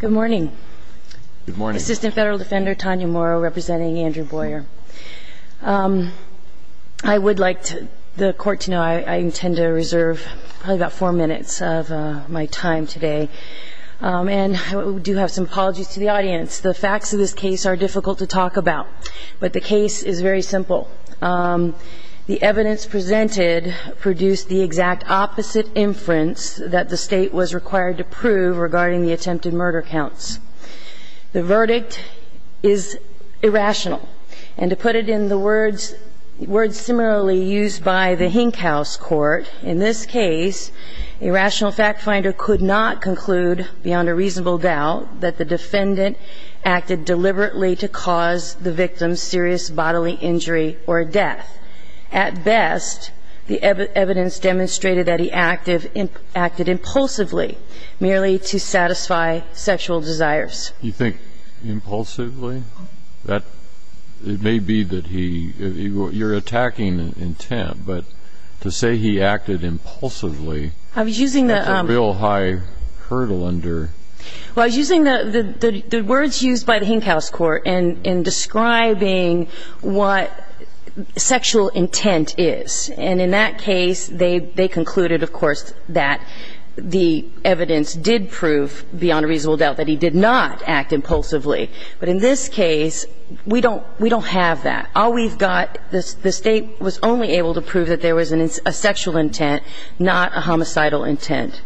Good morning. Good morning. Assistant Federal Defender Tanya Morrow representing Andrew Boyer. I would like the court to know I intend to reserve about four minutes of my time today. And I do have some apologies to the audience. The facts of this case are difficult to talk about, but the case is very simple. The evidence presented produced the exact opposite inference that the State was required to prove regarding the attempted murder counts. The verdict is irrational. And to put it in the words similarly used by the Hink House Court, in this case, a rational fact finder could not conclude beyond a reasonable doubt that the defendant acted deliberately to cause the victim a serious bodily injury or death. At best, the evidence demonstrated that he acted impulsively, merely to satisfy sexual desires. You think impulsively? It may be that he – you're attacking intent, but to say he acted impulsively – I was using the – That's a real high hurdle under – Well, I was using the words used by the Hink House Court in describing what sexual intent is. And in that case, they concluded, of course, that the evidence did prove beyond a reasonable doubt that he did not act impulsively. But in this case, we don't have that. All we've got – the State was only able to prove that there was a sexual intent, not a homicidal intent.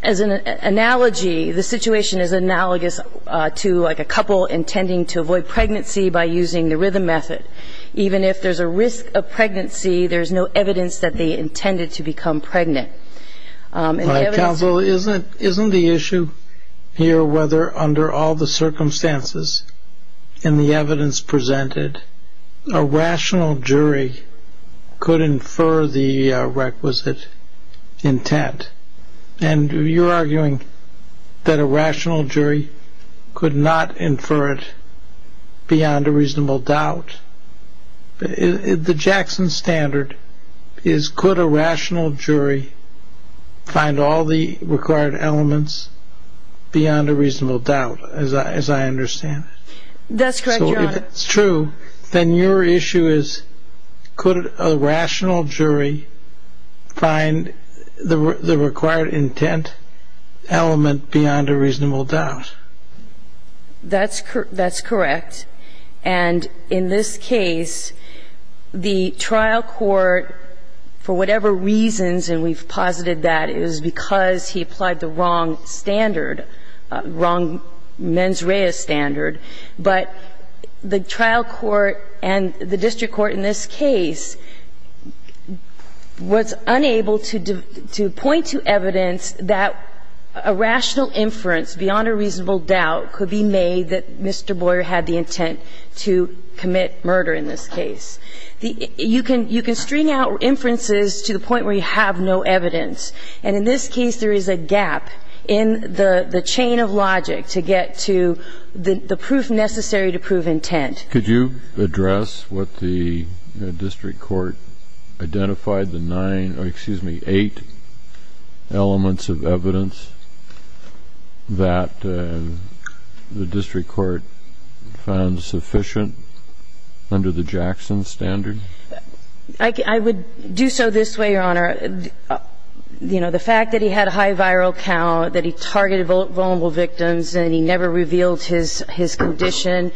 As an analogy, the situation is analogous to like a couple intending to avoid pregnancy by using the rhythm method. Even if there's a risk of pregnancy, there's no evidence that they intended to become pregnant. Counsel, isn't the issue here whether under all the circumstances in the evidence presented, a rational jury could infer the requisite intent? And you're arguing that a rational jury could not infer it beyond a reasonable doubt. The Jackson Standard is could a rational jury find all the required elements beyond a reasonable doubt, as I understand. That's correct, Your Honor. If it's true, then your issue is could a rational jury find the required intent element beyond a reasonable doubt? That's correct. And in this case, the trial court, for whatever reasons, and we've posited that it was because he applied the wrong standard, wrong mens rea standard, but the trial court and the district court in this case was unable to point to evidence that a rational inference beyond a reasonable doubt could be made that Mr. Boyer had the intent to commit murder in this case. You can string out inferences to the point where you have no evidence. And in this case, there is a gap in the chain of logic to get to the proof necessary to prove intent. Could you address what the district court identified, the nine or, excuse me, eight elements of evidence that the district court found sufficient under the Jackson Standard? The fact that he had a high viral count, that he targeted vulnerable victims, and he never revealed his condition.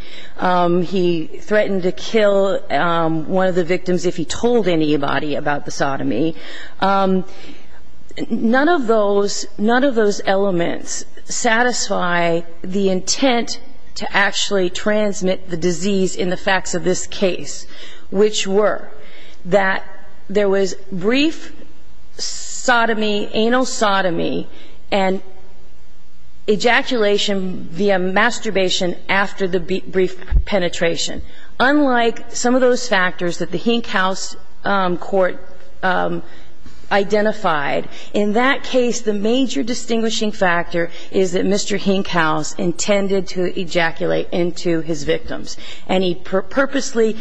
He threatened to kill one of the victims if he told anybody about the sodomy. None of those elements satisfy the intent to actually transmit the disease in the facts of this case, which were that there was brief sodomy, anal sodomy, and ejaculation via masturbation after the brief penetration. Unlike some of those factors that the Hink House court identified, in that case, the major distinguishing factor is that Mr. Hink House intended to ejaculate into his victims. And he purposely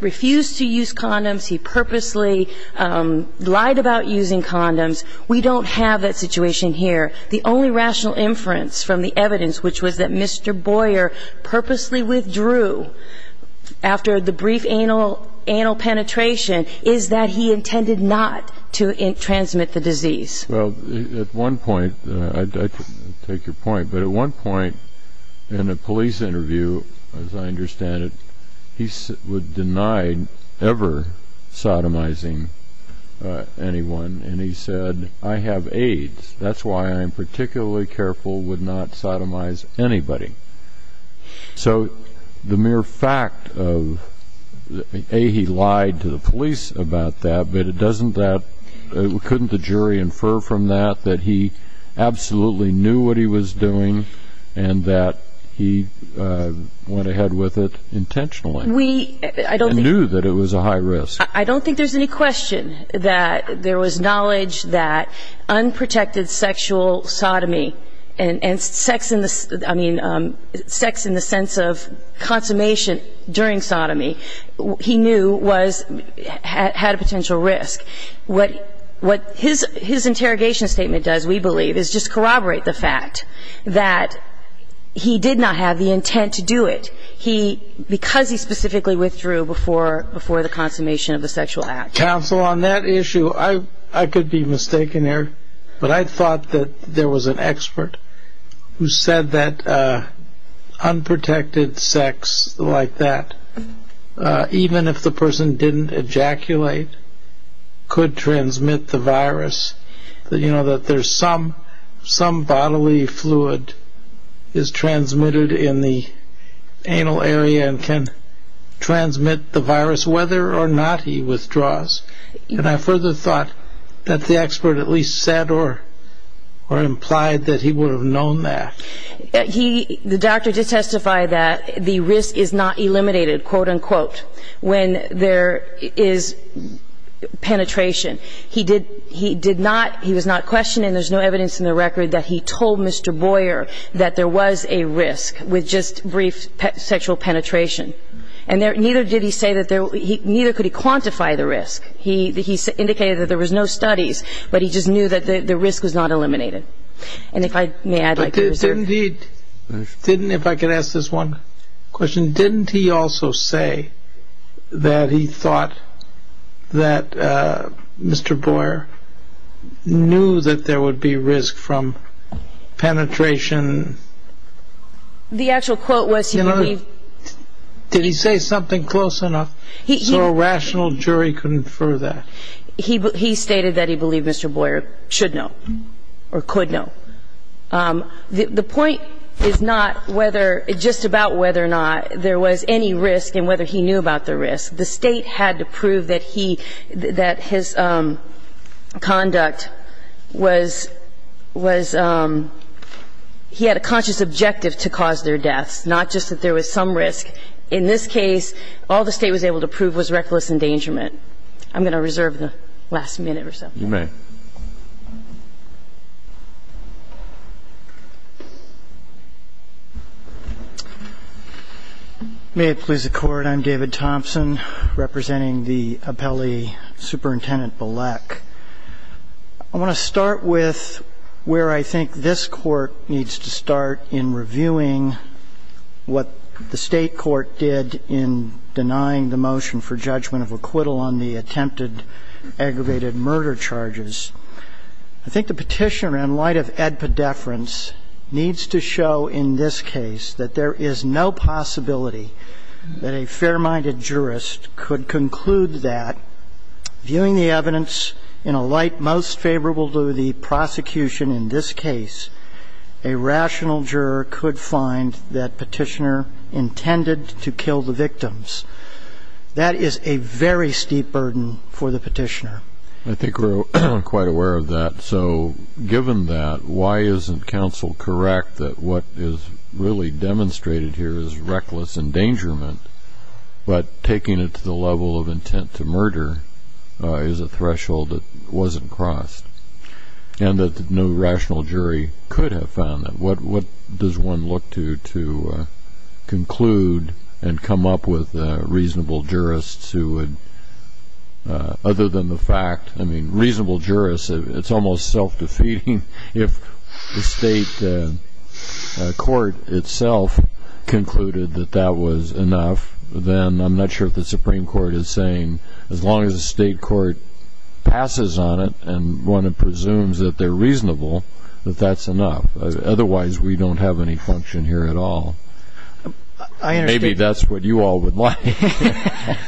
refused to use condoms. He purposely lied about using condoms. We don't have that situation here. The only rational inference from the evidence, which was that Mr. Boyer purposely withdrew after the brief anal penetration, is that he intended not to transmit the disease. Well, at one point, I take your point. But at one point in a police interview, as I understand it, he was denied ever sodomizing anyone. And he said, I have AIDS. That's why I'm particularly careful with not sodomizing anybody. So the mere fact of, A, he lied to the police about that, but it doesn't that couldn't the jury infer from that that he absolutely knew what he was doing and that he went ahead with it intentionally and knew that it was a high risk. I don't think there's any question that there was knowledge that unprotected sexual sodomy and sex in the sense of consummation during sodomy, he knew had a potential risk. What his interrogation statement does, we believe, is just corroborate the fact that he did not have the intent to do it. Because he specifically withdrew before the consummation of the sexual act. Counsel, on that issue, I could be mistaken here. But I thought that there was an expert who said that unprotected sex like that, even if the person didn't ejaculate, could transmit the virus, that there's some bodily fluid is transmitted in the anal area and can transmit the virus whether or not he withdraws. And I further thought that the expert at least said or implied that he would have known that. The doctor did testify that the risk is not eliminated, quote, unquote, when there is penetration. He did not, he was not questioned, and there's no evidence in the record that he told Mr. Boyer that there was a risk with just brief sexual penetration. And neither did he say that there, neither could he quantify the risk. He indicated that there was no studies, but he just knew that the risk was not eliminated. And if I may add, I could reserve. Didn't he, if I could ask this one question, didn't he also say that he thought that Mr. Boyer knew that there would be risk from penetration? The actual quote was he believed. Did he say something close enough so a rational jury couldn't infer that? He stated that he believed Mr. Boyer should know or could know. The point is not whether, just about whether or not there was any risk and whether he knew about the risk. The State had to prove that he, that his conduct was, was, he had a conscious objective to cause their deaths, not just that there was some risk. In this case, all the State was able to prove was reckless endangerment. I'm going to reserve the last minute or so. You may. May it please the Court. I'm David Thompson, representing the appellee, Superintendent Bilek. I want to start with where I think this Court needs to start in reviewing what the State court did in denying the motion for judgment of acquittal on the attempted aggravated murder charges. I think the Petitioner, in light of ad pedeference, needs to show in this case that there is no possibility that a fair-minded jurist could conclude that, viewing the evidence in a light most favorable to the prosecution in this case, a rational juror could find that Petitioner intended to kill the victims. That is a very steep burden for the Petitioner. I think we're quite aware of that. So given that, why isn't counsel correct that what is really demonstrated here is reckless endangerment, but taking it to the level of intent to murder is a threshold that wasn't crossed, and that no rational jury could have found that? What does one look to to conclude and come up with reasonable jurists who would, other than the fact, I mean, reasonable jurists, it's almost self-defeating. If the State court itself concluded that that was enough, then I'm not sure if the Supreme Court is saying, as long as the State court passes on it and one doesn't have any function here at all. Maybe that's what you all would like,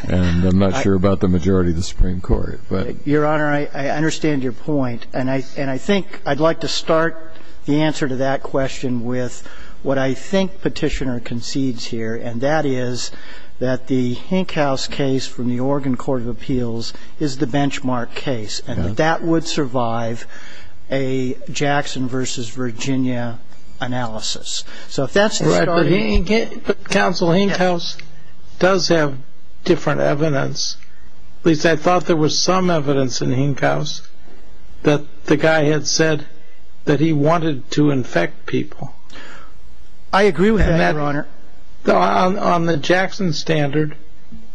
and I'm not sure about the majority of the Supreme Court. Your Honor, I understand your point, and I think I'd like to start the answer to that question with what I think Petitioner concedes here, and that is that the Hink House case from the Oregon Court of Appeals is the benchmark case, and that would survive a Jackson versus Virginia analysis. So if that's the starting point. But Counsel, Hink House does have different evidence. At least I thought there was some evidence in Hink House that the guy had said that he wanted to infect people. I agree with that, Your Honor. On the Jackson standard,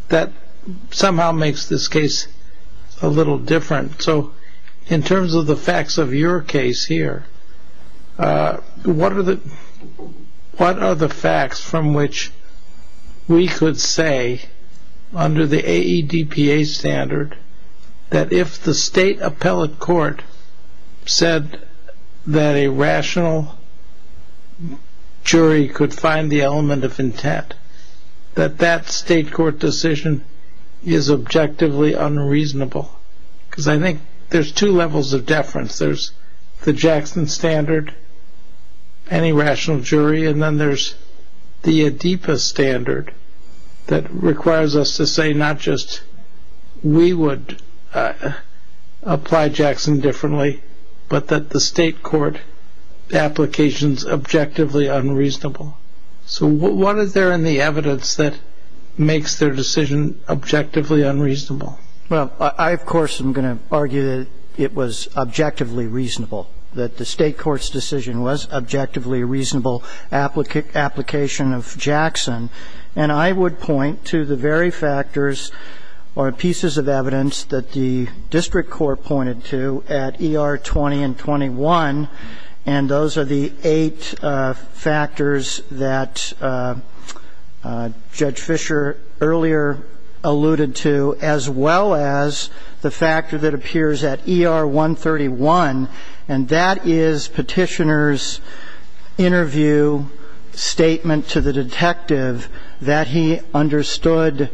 that somehow makes this case a little different. So in terms of the facts of your case here, what are the facts from which we could say under the AEDPA standard that if the State appellate court said that a rational jury could find the element of intent, that that State court decision is objectively unreasonable? Because I think there's two levels of deference. There's the Jackson standard, any rational jury, and then there's the AEDPA standard that requires us to say not just we would apply Jackson differently, but that the State court application is objectively unreasonable. So what is there in the evidence that makes their decision objectively unreasonable? Well, I, of course, am going to argue that it was objectively reasonable, that the State court's decision was objectively reasonable application of Jackson. And I would point to the very factors or pieces of evidence that the District Attorney's Office used to determine whether or not the State court's decision was objectively reasonable. And those are the eight factors that Judge Fischer earlier alluded to, as well as the factor that appears at ER 131, and that is Petitioner's interview statement to the Court of Appeals. was not objectively reasonable. It was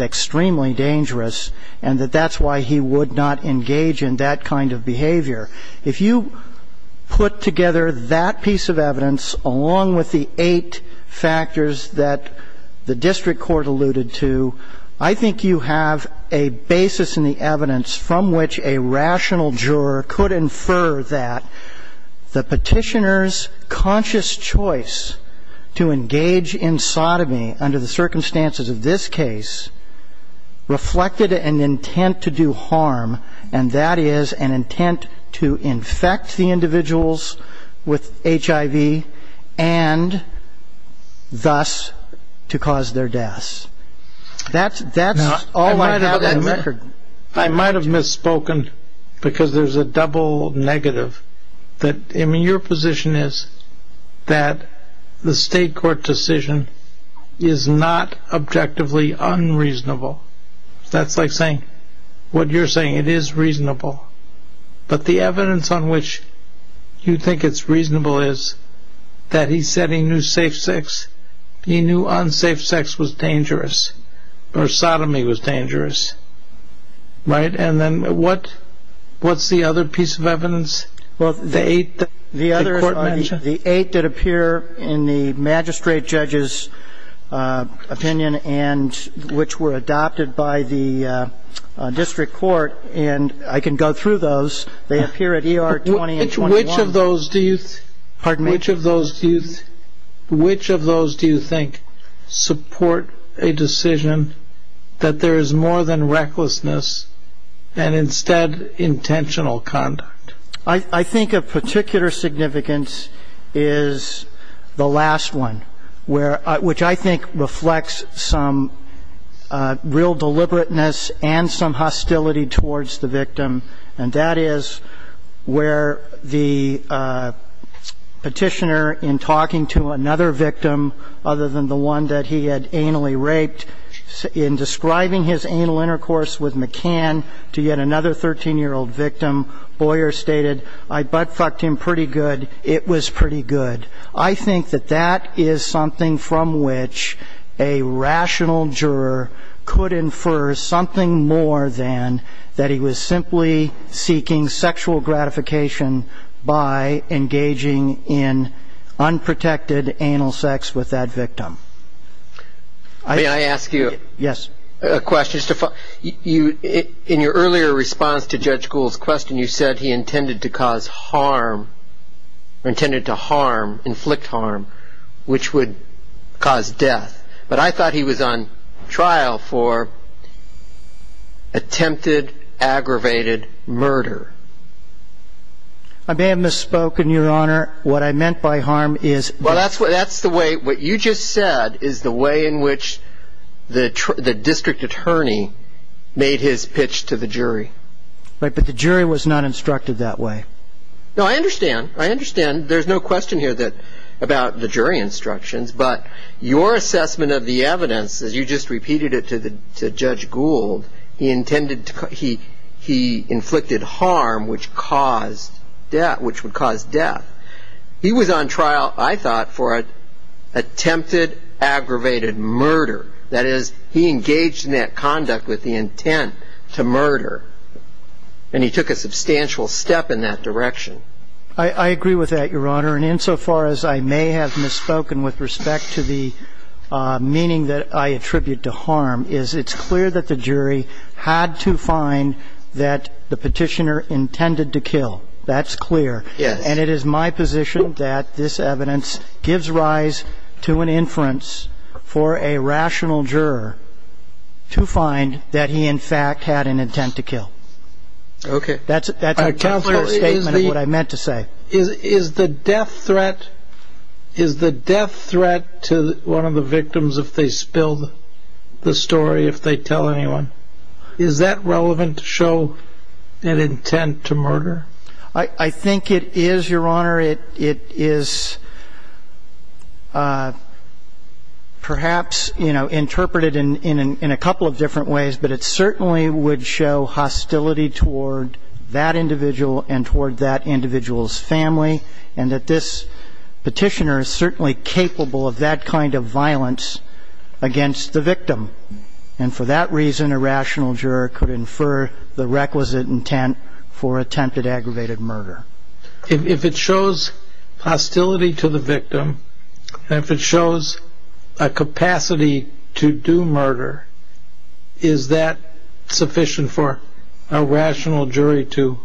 objectively dangerous, and that that's why he would not engage in that kind of behavior. If you put together that piece of evidence, along with the eight factors that the reflected an intent to do harm, and that is an intent to infect the individuals with HIV and thus to cause their deaths. That's all I have on record. I might have misspoken because there's a double negative. I mean, your position is that the State court decision is not objectively unreasonable. That's like saying what you're saying. It is reasonable. But the evidence on which you think it's reasonable is that he said he knew safe sex. He knew unsafe sex was dangerous, or sodomy was dangerous. Right? And then what's the other piece of evidence? Well, the eight that the Court mentioned. The eight that appear in the magistrate judge's opinion and which were adopted by the district court, and I can go through those. They appear at ER 20 and 21. Which of those do you think support a decision that there is more than recklessness and instead intentional conduct? I think of particular significance is the last one, which I think reflects some real deliberateness and some hostility towards the victim, and that is where the petitioner, in talking to another victim other than the one that he had anally raped, in describing his anal intercourse with McCann to yet another 13-year-old victim, Boyer stated, I buttfucked him pretty good. It was pretty good. I think that that is something from which a rational juror could infer something more than that he was simply seeking sexual gratification by engaging in unprotected anal sex with that victim. May I ask you a question? Yes. In your earlier response to Judge Gould's question, you said he intended to cause harm, intended to harm, inflict harm, which would cause death. But I thought he was on trial for attempted, aggravated murder. I may have misspoken, Your Honor. What I meant by harm is... Well, that's the way, what you just said is the way in which the district attorney made his pitch to the jury. Right, but the jury was not instructed that way. No, I understand. I understand. There's no question here about the jury instructions, but your assessment of the evidence, as you just repeated it to Judge Gould, he intended to, he inflicted harm, which caused death, which would cause death. He was on trial, I thought, for attempted, aggravated murder. That is, he engaged in that conduct with the intent to murder, and he took a substantial step in that direction. I agree with that, Your Honor. And insofar as I may have misspoken with respect to the meaning that I attribute to harm is it's clear that the jury had to find that the petitioner intended to kill. That's clear. Yes. And it is my position that this evidence gives rise to an inference for a rational juror to find that he, in fact, had an intent to kill. Okay. That's a definite statement of what I meant to say. Is the death threat to one of the victims if they spill the story, if they tell anyone, is that relevant to show an intent to murder? I think it is, Your Honor. It is perhaps, you know, interpreted in a couple of different ways, but it certainly would show hostility toward that individual and toward that individual's family, and that this petitioner is certainly capable of that kind of violence against the victim. And for that reason, a rational juror could infer the requisite intent for attempted aggravated murder. If it shows hostility to the victim and if it shows a capacity to do murder, is that sufficient for a rational jury to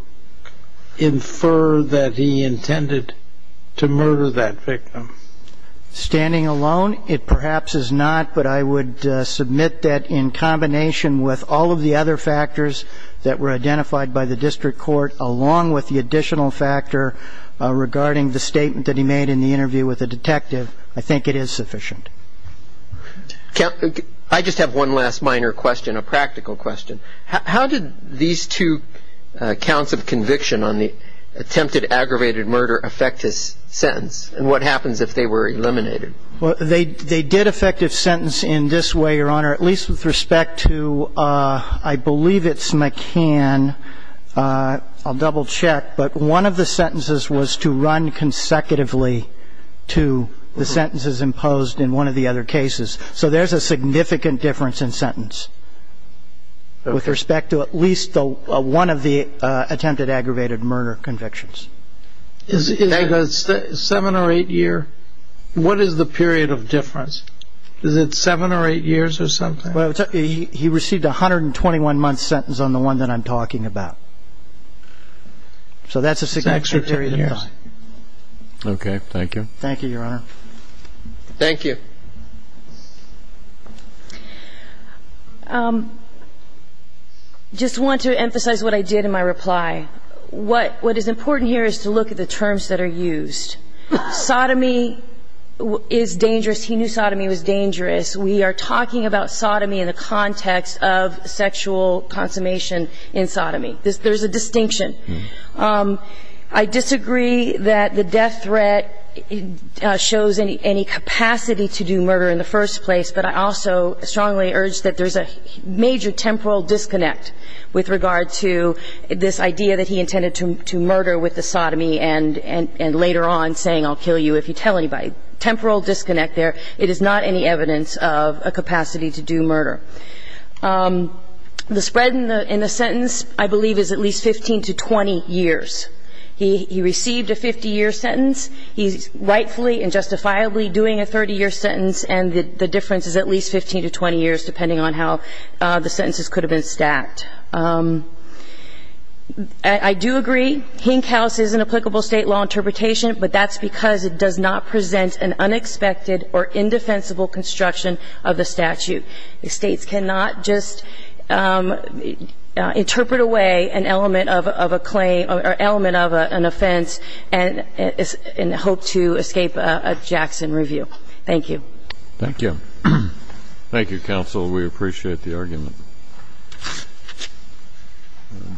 infer that he intended to murder that victim? Standing alone, it perhaps is not, but I would submit that in combination with all of the other factors that were identified by the district court, along with the additional factor regarding the statement that he made in the interview with the detective, I think it is sufficient. I just have one last minor question, a practical question. How did these two counts of conviction on the attempted aggravated murder affect his sentence, and what happens if they were eliminated? Well, they did affect his sentence in this way, Your Honor, at least with respect to, I believe it's McCann. I'll double-check. But one of the sentences was to run consecutively to the sentences imposed in one of the other cases. So there's a significant difference in sentence with respect to at least one of the attempted aggravated murder convictions. Is it seven or eight years? What is the period of difference? Is it seven or eight years or something? He received a 121-month sentence on the one that I'm talking about. So that's a significant period of time. Okay. Thank you. Thank you, Your Honor. Thank you. I just want to emphasize what I did in my reply. What is important here is to look at the terms that are used. Sodomy is dangerous. He knew sodomy was dangerous. We are talking about sodomy in the context of sexual consummation in sodomy. There's a distinction. I disagree that the death threat shows any capacity to do murder in the first place, but I also strongly urge that there's a major temporal disconnect with regard to this idea that he intended to murder with the sodomy and later on saying, I'll kill you if you tell anybody. Temporal disconnect there. It is not any evidence of a capacity to do murder. The spread in the sentence, I believe, is at least 15 to 20 years. He received a 50-year sentence. He's rightfully and justifiably doing a 30-year sentence, and the difference is at least 15 to 20 years depending on how the sentences could have been stacked. I do agree. Hink House is an applicable State law interpretation, but that's because it does not present an unexpected or indefensible construction of the statute. States cannot just interpret away an element of a claim or element of an offense and hope to escape a Jackson review. Thank you. Thank you. Thank you, counsel. We appreciate the argument.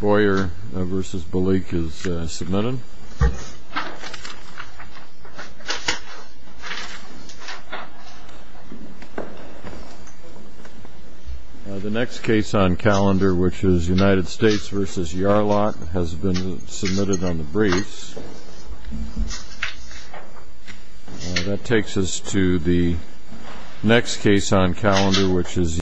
Boyer v. Balik is submitted. The next case on calendar, which is United States v. Yarlok, has been submitted on the briefs. That takes us to the next case on calendar, which is Yarlok.